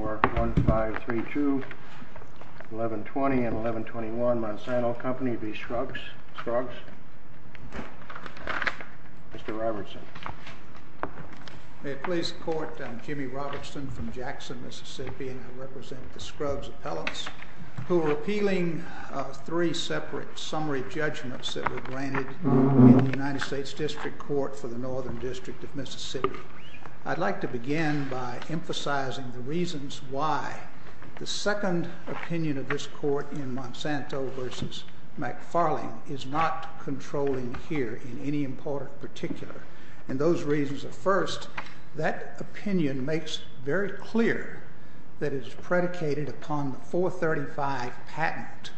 May it please the Court, I'm Jimmy Robertson from Jackson, Mississippi, and I represent the Scruggs Appellants who are appealing three separate summary judgments that were granted in the United States District Court for the Northern District of Mississippi. I'd like to begin by emphasizing the reasons why the second opinion of this Court in Monsanto v. McFarling is not controlling here in any important particular. And those reasons are first, that opinion makes very clear that it is predicated upon the 435 patent.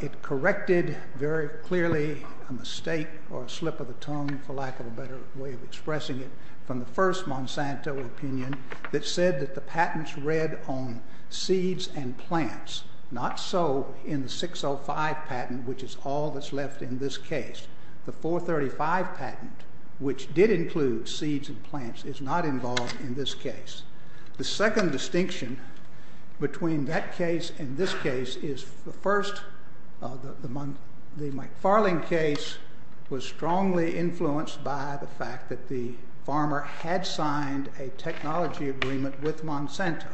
It corrected very clearly a mistake or a slip of the tongue, for lack of a better way of expressing it, from the first Monsanto opinion that said that the patents read on seeds and plants, not so in the 605 patent, which is all that's left in this case. The 435 patent, which did include seeds and plants, is not involved in this case. The second distinction between that case and this case is, first, the McFarling case was strongly influenced by the fact that the farmer had signed a technology agreement with Monsanto.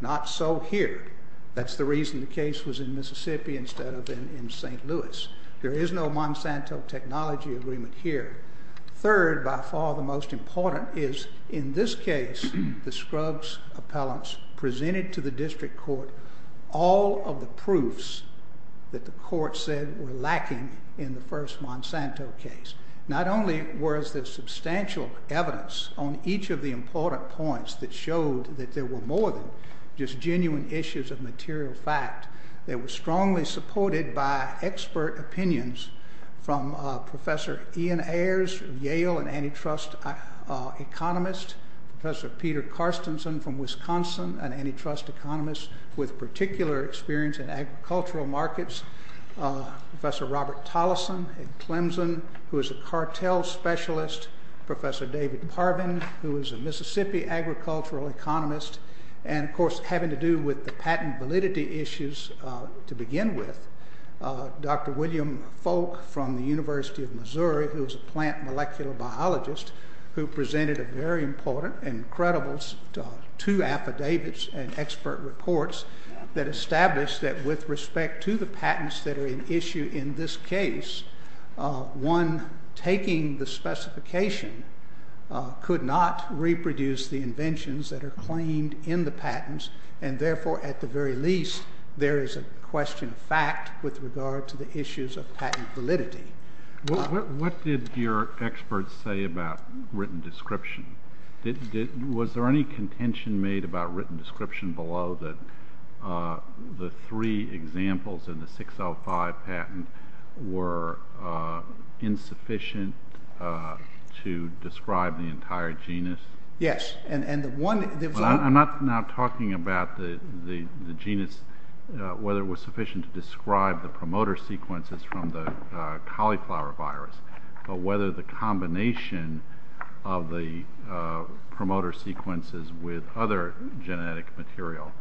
Not so here. That's the reason the case was in Mississippi instead of in St. Louis. There is no Monsanto technology agreement here. Third, by far the most important, is in this case, the Scruggs Appellants presented to us proofs that the court said were lacking in the first Monsanto case. Not only was there substantial evidence on each of the important points that showed that there were more than just genuine issues of material fact, they were strongly supported by expert opinions from Professor Ian Ayers of Yale, an antitrust economist, Professor Peter Carstensen from Agricultural Markets, Professor Robert Tolleson at Clemson, who is a cartel specialist, Professor David Parvin, who is a Mississippi agricultural economist, and of course, having to do with the patent validity issues to begin with, Dr. William Folk from the University of Missouri, who is a plant molecular biologist, who presented a very important and credible two affidavits and expert reports that established that with respect to the patents that are in issue in this case, one taking the specification could not reproduce the inventions that are claimed in the patents, and therefore, at the very least, there is a question of fact with regard to the issues of patent validity. What did your experts say about written description? Was there any contention made about written description below that the three examples in the 605 patent were insufficient to describe the entire genus? Yes, and the one that was on the… I'm not now talking about the genus, whether it was sufficient to describe the promoter sequences from the cauliflower virus, but whether the combination of the promoter sequences with other genetic material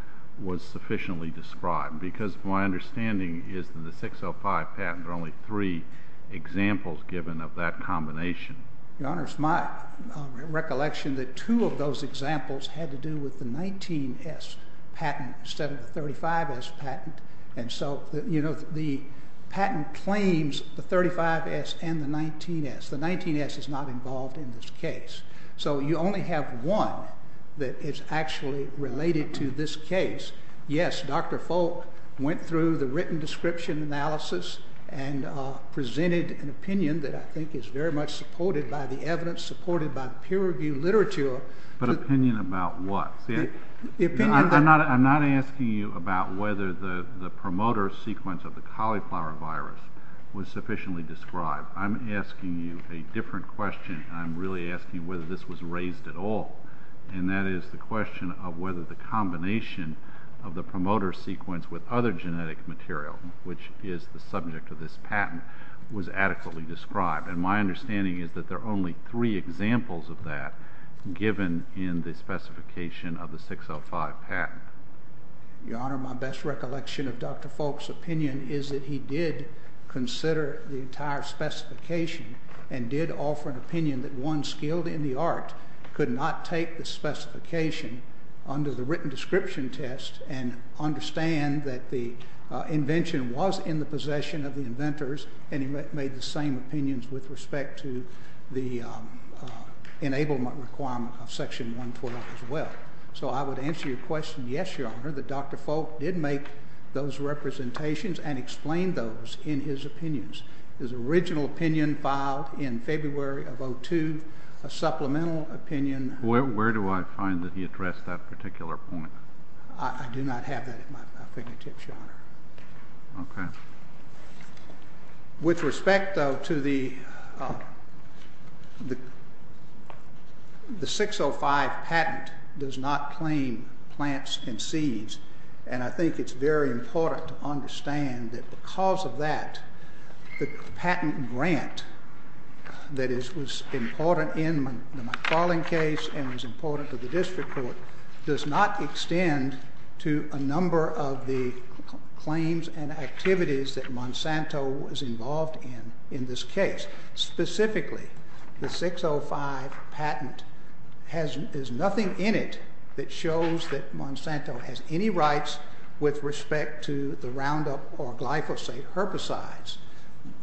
was sufficiently described, because my understanding is that the 605 patents are only three examples given of that combination. Your Honor, it's my recollection that two of those examples had to do with the 19S patent instead of the 35S patent, and so the patent claims the 35S and the 19S. The 19S is not that it's actually related to this case. Yes, Dr. Folk went through the written description analysis and presented an opinion that I think is very much supported by the evidence, supported by the peer-reviewed literature. But opinion about what? The opinion… I'm not asking you about whether the promoter sequence of the cauliflower virus was sufficiently described. I'm asking you a different question, and I'm really asking whether this was raised at all, and that is the question of whether the combination of the promoter sequence with other genetic material, which is the subject of this patent, was adequately described. And my understanding is that there are only three examples of that given in the specification of the 605 patent. Your Honor, my best recollection of Dr. Folk's opinion is that he did consider the entire could not take the specification under the written description test and understand that the invention was in the possession of the inventors, and he made the same opinions with respect to the enablement requirement of Section 112 as well. So I would answer your question, yes, Your Honor, that Dr. Folk did make those representations and explain those in his opinions. His original opinion filed in February of 2002, a supplemental opinion… Where do I find that he addressed that particular point? I do not have that at my fingertips, Your Honor. Okay. With respect, though, to the 605 patent does not claim plants and seeds, and I think it's very important to understand that because of that, the patent grant that was important in the McFarland case and was important to the district court does not extend to a number of the claims and activities that Monsanto was involved in in this case. Specifically, the 605 patent has nothing in it that shows that Monsanto has any rights with respect to the Roundup or glyphosate herbicides.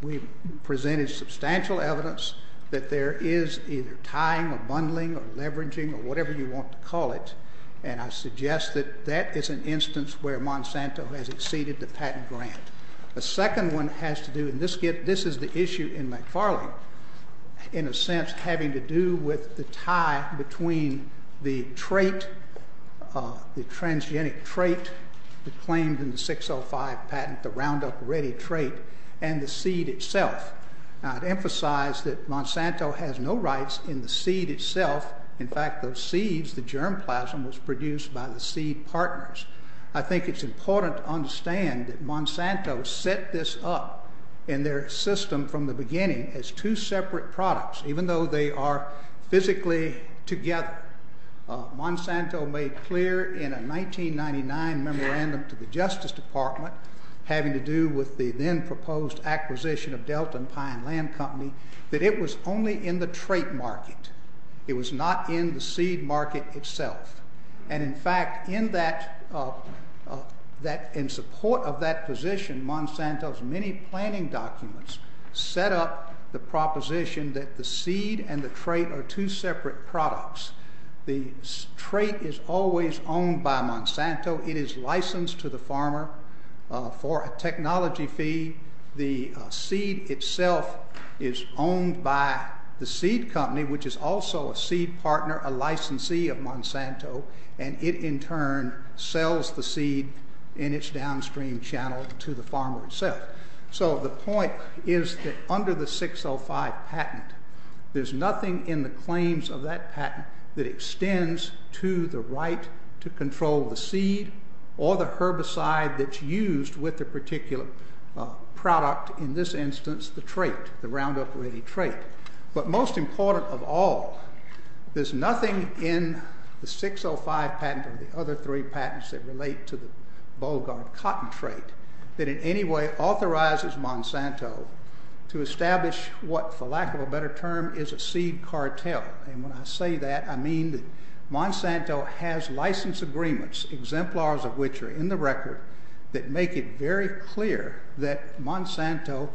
We've presented substantial evidence that there is either tying or bundling or leveraging or whatever you want to call it, and I suggest that that is an instance where Monsanto has exceeded the patent grant. The second one has to do—and this is the issue in McFarland, in a sense having to do with the tie between the transgenic trait that claimed in the 605 patent, the Roundup or ready trait, and the seed itself. Now, to emphasize that Monsanto has no rights in the seed itself—in fact, those seeds, the germplasm, was produced by the seed partners. I think it's important to understand that Monsanto set this up in their system from the beginning as two separate products, even though they are physically together. Monsanto made clear in a 1999 memorandum to the Justice Department having to do with the then-proposed acquisition of Delton Pine Land Company that it was only in the trait market. It was not in the seed market itself. And in fact, in support of that position, Monsanto's many planning documents set up the proposition that the seed and the trait are two separate products. The trait is always owned by Monsanto. It is licensed to the farmer for a technology fee. The seed itself is owned by the seed company, which is also a seed partner, a licensee of Monsanto, and it in turn sells the seed in its downstream channel to the farmer itself. So the point is that under the 605 patent, there's nothing in the claims of that patent that extends to the right to control the seed or the herbicide that's used with the particular product—in this instance, the trait, the Roundup Ready trait. But most important of all, there's nothing in the 605 patent or the other three patents that relate to the patent that authorizes Monsanto to establish what, for lack of a better term, is a seed cartel. And when I say that, I mean that Monsanto has license agreements, exemplars of which are in the record, that make it very clear that Monsanto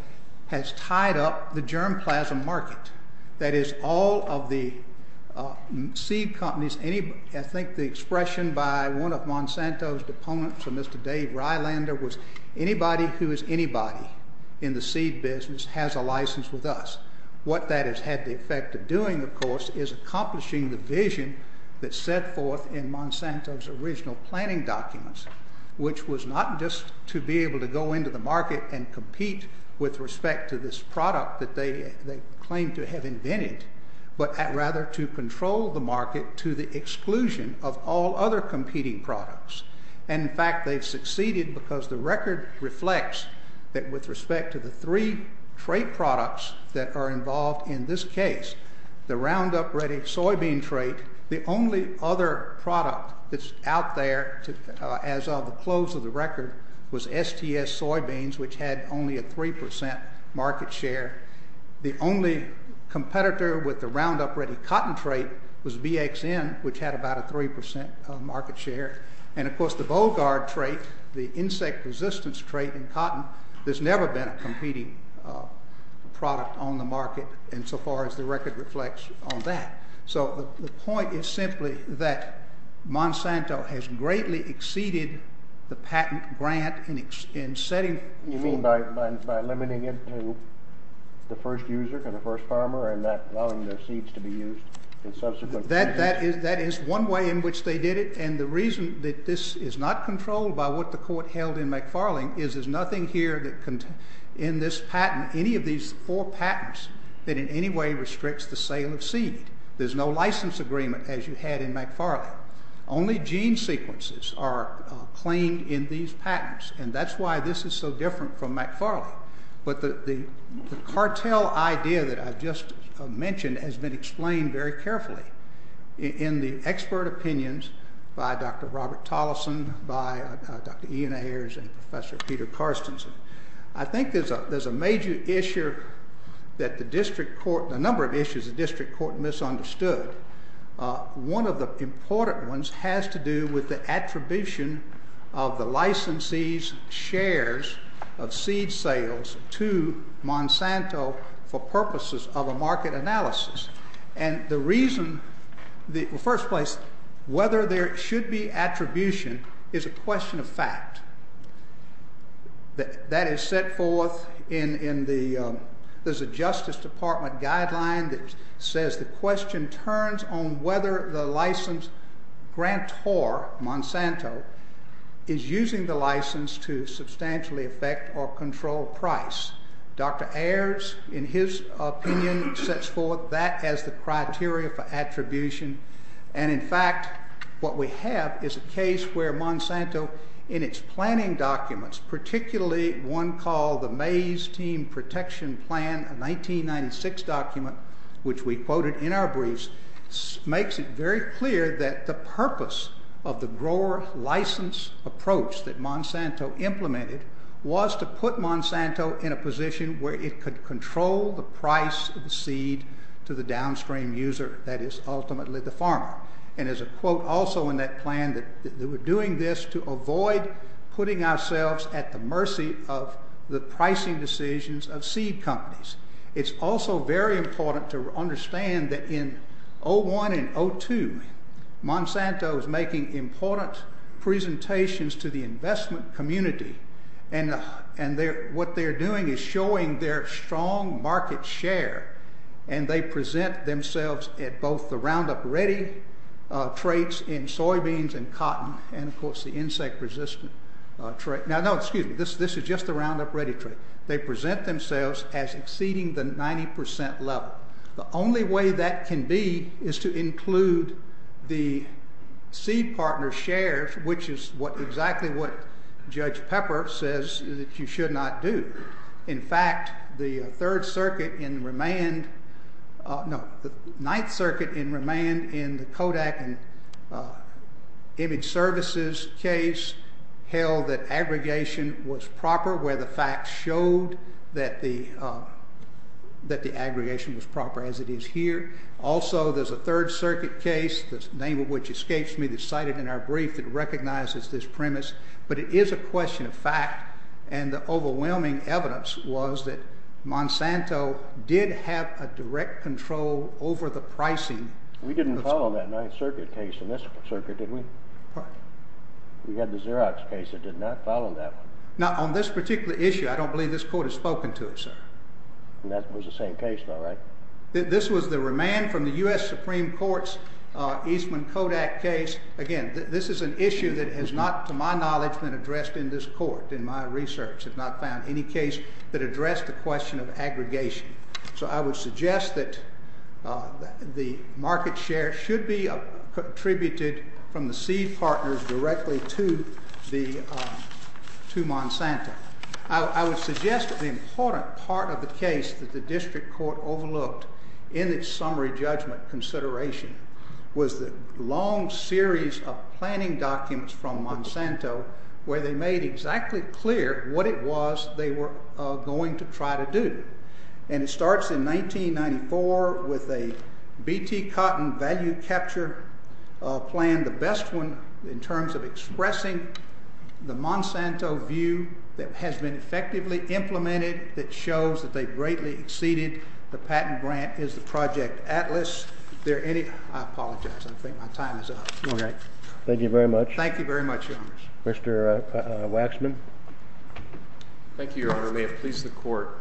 has tied up the germplasm market. That is, all of the seed companies—I think the expression by one of Monsanto's deponents or Mr. Dave Rylander was, anybody who is anybody in the seed business has a license with us. What that has had the effect of doing, of course, is accomplishing the vision that's set forth in Monsanto's original planning documents, which was not just to be able to go into the market and compete with respect to this product that they claim to have invented, but rather to control the market to the exclusion of all other competing products. And in fact, they've succeeded because the record reflects that with respect to the three trait products that are involved in this case, the Roundup Ready soybean trait, the only other product that's out there as of the close of the record was STS Soybeans, which had only a 3% market share. The only competitor with the Roundup Ready cotton trait was BXN, which had about a 3% market share. And of course, the Bogart trait, the insect resistance trait in cotton, there's never been a competing product on the market insofar as the record reflects on that. So the point is simply that Monsanto has greatly exceeded the patent grant in setting— You mean by limiting it to the first user, the first farmer, and not allowing their seeds to be used in subsequent— That is one way in which they did it, and the reason that this is not controlled by what the court held in McFarling is there's nothing here that in this patent, any of these four patents, that in any way restricts the sale of seed. There's no license agreement as you had in McFarling. Only gene sequences are claimed in these patents, and that's why this is so different from McFarling. But the cartel idea that I just mentioned has been explained very carefully in the expert opinions by Dr. Robert Tolleson, by Dr. Ian Ayers, and Professor Peter Karstensen. I think there's a major issue that the district court—a number of issues the district court misunderstood. One of the important ones has to do with the attribution of the licensee's shares of seed sales to Monsanto for purposes of a market analysis, and the reason— Well, first place, whether there should be attribution is a question of fact. That is set forth in the— There's a Justice Department guideline that says the question turns on whether the license grantor, Monsanto, is using the license to substantially affect or control price. Dr. Ayers, in his opinion, sets forth that as the criteria for attribution, and in fact, what we have is a case where Monsanto, in its planning documents, particularly one called the Mays Team Protection Plan, a 1996 document, which we quoted in our briefs, makes it very clear that the purpose of the grower license approach that Monsanto implemented was to put Monsanto in a position where it could control the price of the seed to the downstream user, that is ultimately the farmer. And there's a quote also in that plan that we're doing this to avoid putting ourselves at the mercy of the pricing decisions of seed companies. It's also very important to understand that in 01 and 02, Monsanto is making important presentations to the investment community, and what they're doing is showing their strong market share, and they present themselves at both the Roundup Ready traits in soybeans and cotton, and, of course, the insect-resistant trait. Now, no, excuse me. This is just the 90% level. The only way that can be is to include the seed partner shares, which is exactly what Judge Pepper says that you should not do. In fact, the Third Circuit in remand, no, the Ninth Circuit in remand in the Kodak and Image Services case held that aggregation was proper, where the facts showed that the aggregation was proper, as it is here. Also, there's a Third Circuit case, the name of which escapes me, that's cited in our brief that recognizes this premise, but it is a question of fact, and the overwhelming evidence was that Monsanto did have a direct control over the pricing. We didn't follow that Ninth Circuit case in this circuit, did we? We had the Xerox case that did not follow that one. Now, on this particular issue, I don't believe this court has spoken to it, sir. And that was the same case, though, right? This was the remand from the U.S. Supreme Court's Eastman Kodak case. Again, this is an issue that has not, to my knowledge, been addressed in this court, in my research, have not found any case that addressed the question of aggregation. So I would suggest that the market share should be attributed from the seed partners directly to Monsanto. I would suggest that the important part of the case that the district court overlooked in its summary judgment consideration was the long series of planning documents from Monsanto where they made exactly clear what it was they were going to try to do. And it starts in 1994 with a BT Cotton value capture plan, the best one in terms of expressing the Monsanto view that has been effectively implemented that shows that they greatly exceeded the patent grant is the Project Atlas. I apologize. I think my time is up. Thank you very much. Thank you very much, Your Honors. Mr. Waxman. Thank you, Your Honor. May it please the Court.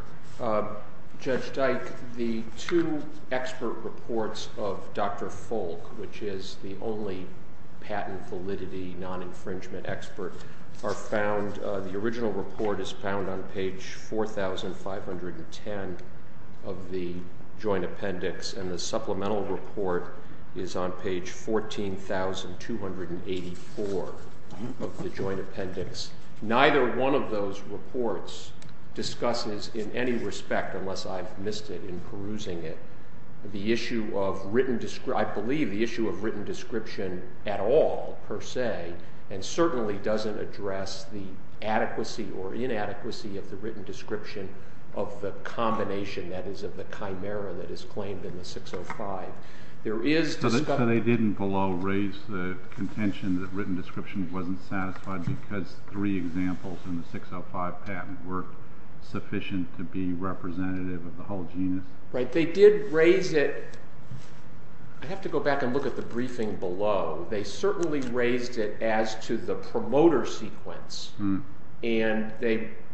Judge Dyke, the two expert reports of Dr. Folk, which is the only patent validity non-infringement expert, are found, the original report is found on page 4510 of the joint appendix, and the supplemental report is on page 14,284 of the joint appendix. Neither one of those reports discusses in any respect, unless I've missed it in perusing it, the issue of written, I believe the issue of written description at all, per se, and certainly doesn't address the adequacy or inadequacy of the written description of the combination that is of the Chimera that is claimed in the 605. There is discussion So they didn't below raise the contention that written description wasn't satisfied because three examples in the 605 patent were sufficient to be representative of the whole genus? Right. They did raise it. I have to go back and look at the briefing below. They certainly raised it as to the promoter sequence, and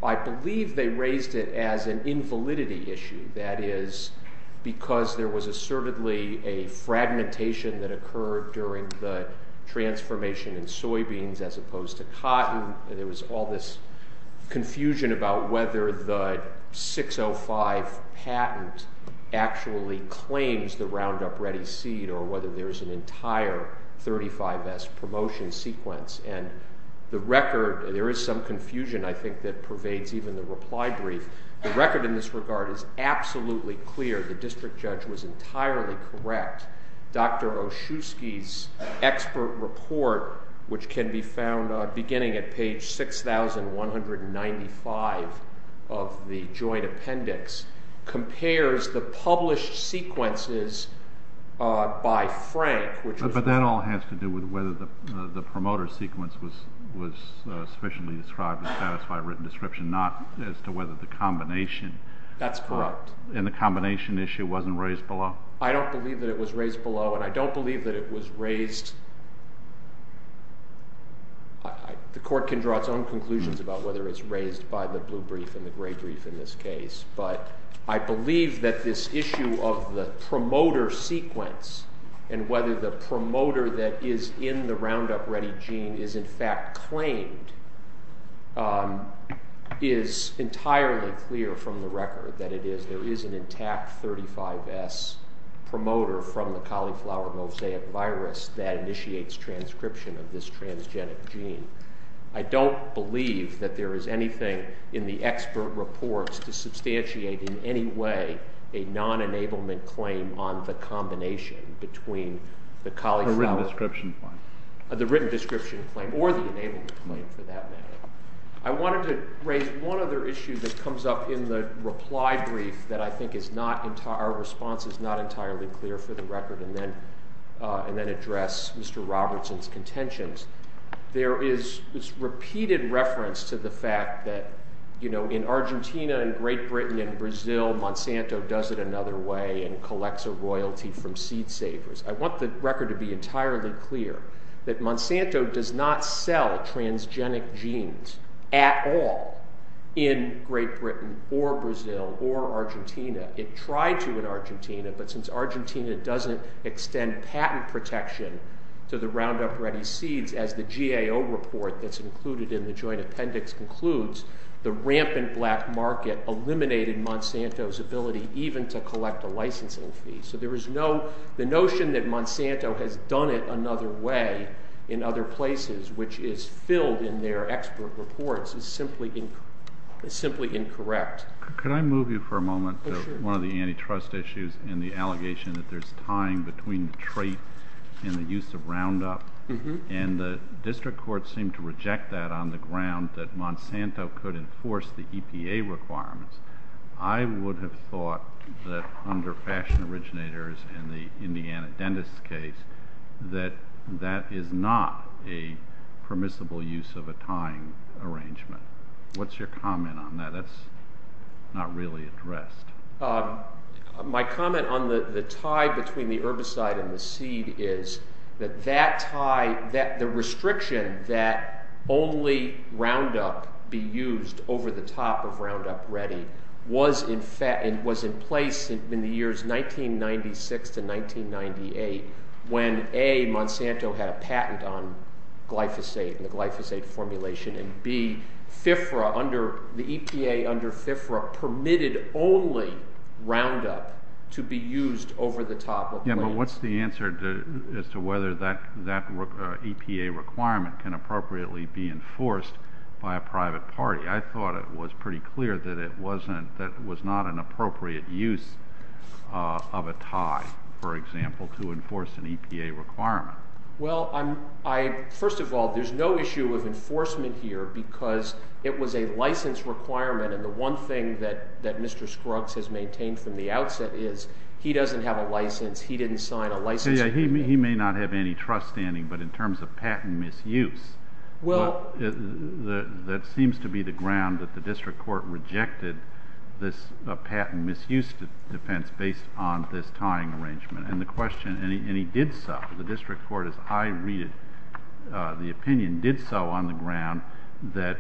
I believe they raised it as an invalidity issue. That is because there was assertedly a fragmentation that occurred during the transformation in soybeans as opposed to cotton. There was all this confusion about whether the 605 patent actually claims the Roundup Ready seed or whether there's an entire 35S promotion sequence. And the record, there is some confusion, I think, that pervades even the reply brief. The record in this regard is absolutely clear. The district judge was entirely correct. Dr. Oshutsky's expert report, which can be found beginning at page 6,195 of the joint appendix, compares the published sequences by Frank, which was But that all has to do with whether the promoter sequence was sufficiently described to satisfy a written description, not as to whether the combination. That's correct. And the combination issue wasn't raised below. I don't believe that it was raised below, and I don't believe that it was raised. The court can draw its own conclusions about whether it's raised by the blue brief and the gray brief in this case, but I believe that this issue of the promoter sequence and whether the promoter that is in the Roundup Ready gene is in fact claimed is entirely clear from the record that it is. There is an intact 35S promoter from the cauliflower mosaic virus that initiates transcription of this transgenic gene. I don't believe that there is anything in the expert reports to substantiate in any way a non-enablement claim on the combination between the cauliflower. The written description claim. The written description claim or the enablement claim, for that matter. I wanted to raise one other issue that comes up in the reply brief that I think is not entirely, our response is not entirely clear for the record, and then address Mr. Robertson's contentions. There is repeated reference to the fact that, you know, in Argentina and Great Britain and Brazil, Monsanto does it another way and collects a royalty from seed savers. I want the record to be entirely clear that Monsanto does not sell transgenic genes at all in Great Britain or Brazil or Argentina. It tried to in Argentina, but since Argentina doesn't extend patent protection to the Roundup Ready seeds as the GAO report that's included in the joint appendix concludes, the rampant black market eliminated Monsanto's ability even to collect a licensing fee. So there is no, the notion that Monsanto has done it another way in other places, which is filled in their expert reports, is simply incorrect. Could I move you for a moment to one of the antitrust issues and the allegation that there's a tying between the trait and the use of Roundup, and the district courts seem to reject that on the ground that Monsanto could enforce the EPA requirements. I would have thought that under fashion originators and the Indiana dentist case, that that is not a permissible use of a tying arrangement. What's your comment on that? That's not really addressed. My comment on the tie between the herbicide and the seed is that that tie, that the restriction that only Roundup be used over the top of Roundup Ready was in place in the years 1996 to 1998 when A, Monsanto had a patent on glyphosate and the glyphosate formulation, and B, FIFRA under the EPA under FIFRA permitted only Roundup to be used over the top. Yeah, but what's the answer as to whether that EPA requirement can appropriately be enforced by a private party? I thought it was pretty clear that it wasn't, that it was not an appropriate use of a tie, for example, to enforce an EPA requirement. Well, first of all, there's no issue of enforcement here because it was a license requirement and the one thing that Mr. Scruggs has maintained from the outset is he doesn't have a license, he didn't sign a license agreement. He may not have any trust standing, but in terms of patent misuse, that seems to be the ground that the district court rejected this patent misuse defense based on this tying arrangement and the question, and he did so, the district court, as I read it, the opinion did so on the ground that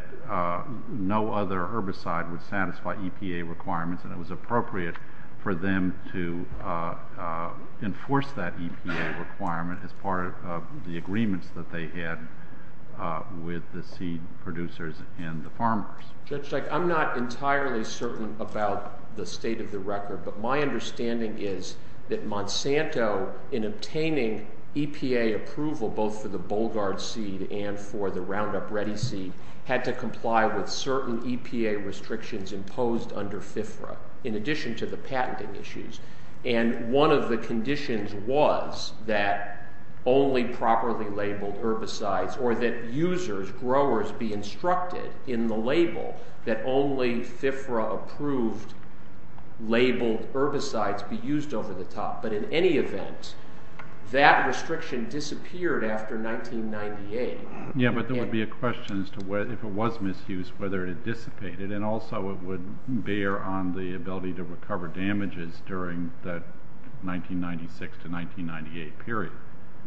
no other herbicide would satisfy EPA requirements and it was appropriate for them to enforce that EPA requirement as part of the agreements that they had with the seed producers and the farmers. Judge, I'm not entirely certain about the state of the record, but my understanding is that Monsanto, in obtaining EPA approval both for the Bollgard seed and for the Roundup Ready seed, had to comply with certain EPA restrictions imposed under FFRA in addition to the patenting issues, and one of the conditions was that only properly labeled herbicides or that users, growers, be instructed in the label that only FFRA approved labeled herbicides be used over the top, but in any event, that restriction disappeared after 1998. Yeah, but there would be a question as to if it was misused, whether it dissipated, and also it would bear on the ability to recover damages during that 1996 to 1998 period.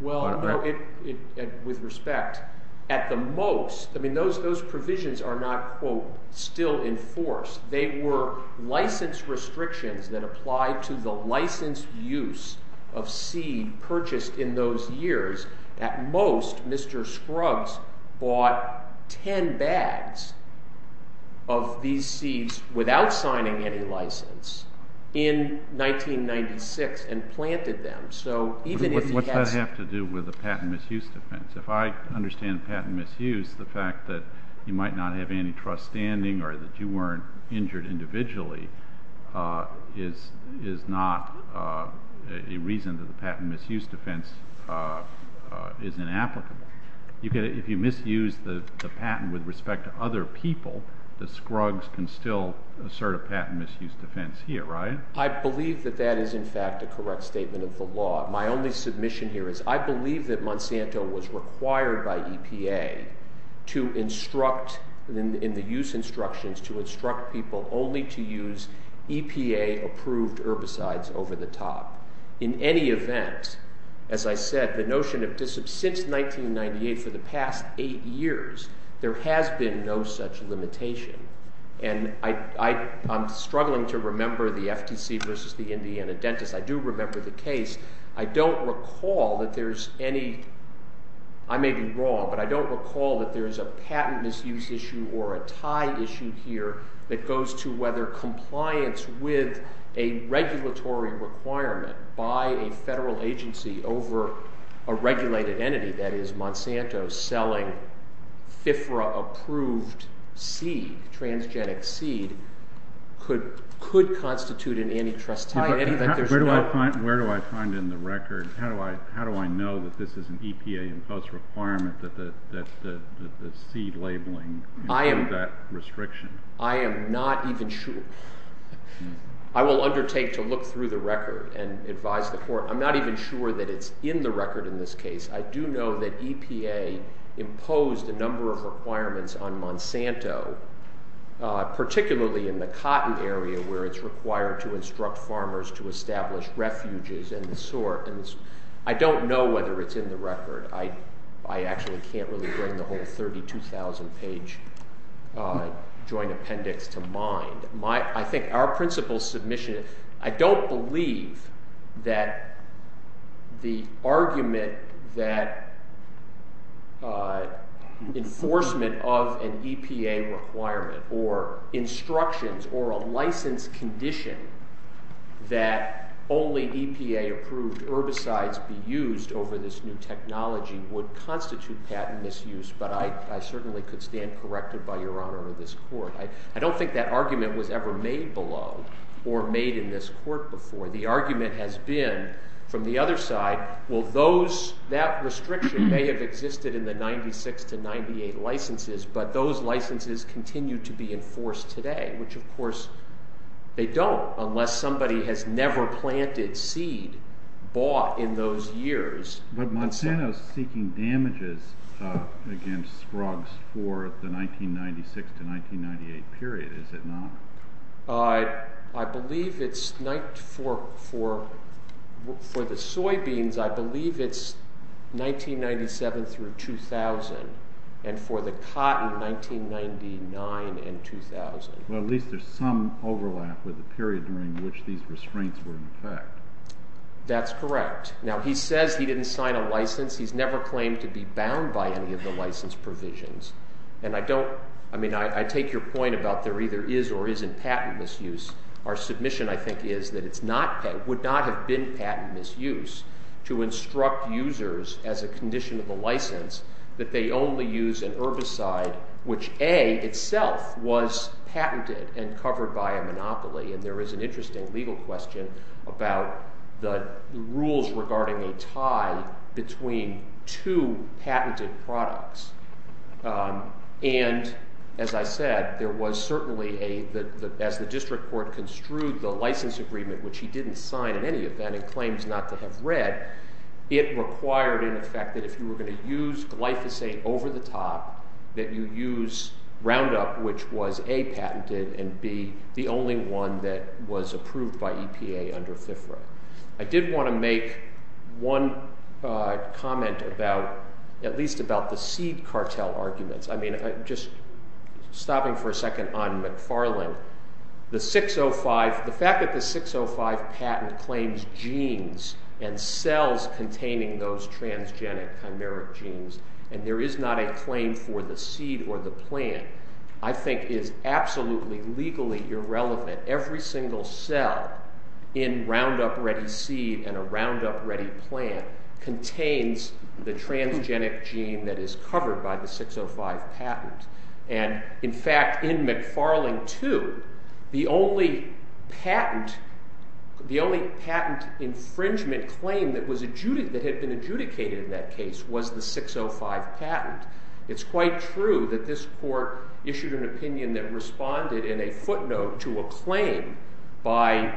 Well, no, with respect, at the most, I mean, those provisions are not, quote, still in force. They were license restrictions that applied to the licensed use of seed purchased in those years. At most, Mr. Scruggs bought 10 bags of these seeds without signing any a patent misuse defense. If I understand a patent misuse, the fact that you might not have antitrust standing or that you weren't injured individually is not a reason that the patent misuse defense is inapplicable. If you misuse the patent with respect to other people, the Scruggs can still assert a patent misuse defense here, right? I believe that that is, in fact, a correct statement of the law. My only submission here is I believe that Monsanto was required by EPA to instruct, in the use instructions, to instruct people only to use EPA approved herbicides over the top. In any event, as I said, the notion of, since 1998, for the past eight years, there has been no such I do remember the case. I don't recall that there's any, I may be wrong, but I don't recall that there's a patent misuse issue or a tie issue here that goes to whether compliance with a regulatory requirement by a federal agency over a regulated entity, that is, Monsanto, selling FIFRA approved seed, transgenic seed, could constitute an antitrust. Where do I find it in the record? How do I know that this is an EPA imposed requirement that the seed labeling include that restriction? I am not even sure. I will undertake to look through the record and advise the court. I'm not even sure that it's in the record in this case. I do know that EPA imposed a number of requirements on Monsanto, particularly in the cotton area where it's required to instruct farmers to establish refuges and the sort, and I don't know whether it's in the record. I actually can't really bring the whole 32,000 page joint appendix to mind. I think our principle submission, I don't believe that the argument that enforcement of an EPA requirement or instructions or a license condition that only EPA approved herbicides be used over this new technology would constitute patent misuse, but I certainly could stand corrected by your honor of this court. I don't think that argument was ever made below or made in this court before. The argument has been from the other side, well those, that restriction may have existed in the 96 to 98 licenses, but those licenses continue to be enforced today, which of course they don't unless somebody has never planted seed bought in those years. But Monsanto's seeking damages against drugs for the 1996 to 1998 period, is it not? I believe it's, for the soybeans I believe it's 1997 through 2000, and for the cotton 1999 and 2000. Well at least there's some overlap with the period during which these restraints were in effect. That's correct. Now he says he didn't sign a license, he's never claimed to be bound by any of the license provisions, and I don't, I mean I take your point about there either is or isn't patent misuse. Our submission I think is that it's not, would not have been patent misuse to instruct users as a condition of a license that they only use an herbicide which A, itself was patented and covered by a monopoly, and there is an interesting legal question about the rules regarding a tie between two patented products. And as I said there was certainly a, as the district court construed the license agreement which he didn't sign in any event and claims not to have read, it required in effect that if you were going to use glyphosate over the top, that you use Roundup which was A, patented, and B, the only one that was approved by EPA under FIFRA. I did want to make one comment about, at least about the seed cartel arguments. I mean just stopping for a second on McFarland, the 605, the fact that the 605 patent claims genes and cells containing those transgenic chimeric genes and there is not a claim for the seed or the plant, I think is absolutely legally irrelevant. Every single cell in Roundup ready seed and a Roundup ready plant contains the transgenic gene that is covered by the 605 patent. And in fact in McFarland too, the only patent, the only patent infringement claim that was adjudicated, that had been adjudicated in that case was the 605 patent. It's quite true that this court issued an out note to a claim by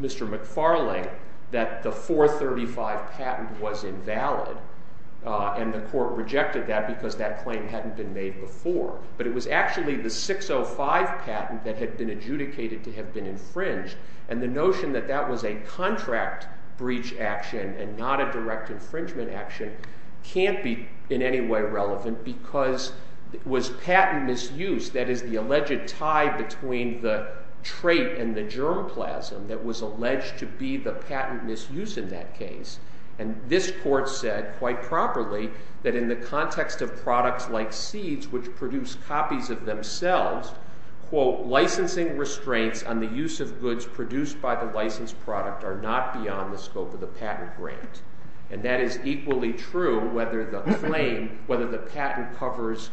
Mr. McFarland that the 435 patent was invalid and the court rejected that because that claim hadn't been made before. But it was actually the 605 patent that had been adjudicated to have been infringed and the notion that that was a contract breach action and not a direct infringement action can't be in any way relevant because it was an alleged tie between the trait and the germplasm that was alleged to be the patent misuse in that case. And this court said quite properly that in the context of products like seeds which produce copies of themselves, quote, licensing restraints on the use of goods produced by the licensed product are not beyond the scope of the patent grant. And that is equally true whether the claim, whether the patent covers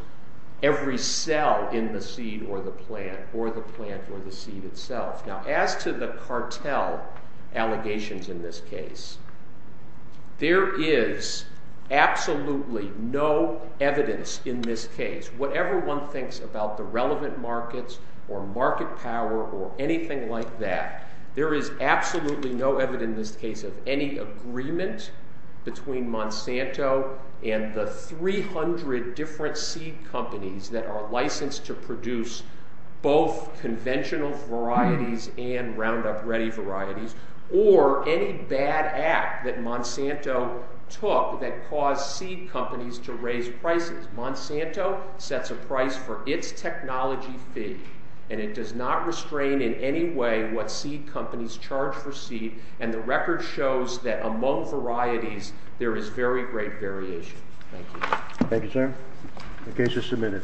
every cell in the plant or the plant or the seed itself. Now as to the cartel allegations in this case, there is absolutely no evidence in this case, whatever one thinks about the relevant markets or market power or anything like that, there is absolutely no evidence in this case of any agreement between Monsanto and the 300 different seed companies that are licensed to produce both conventional varieties and Roundup Ready varieties or any bad act that Monsanto took that caused seed companies to raise prices. Monsanto sets a price for its technology fee and it does not restrain in any way what seed companies charge for seed and the record shows that among varieties there is very great variation. Thank you. Thank you, sir. The case is submitted.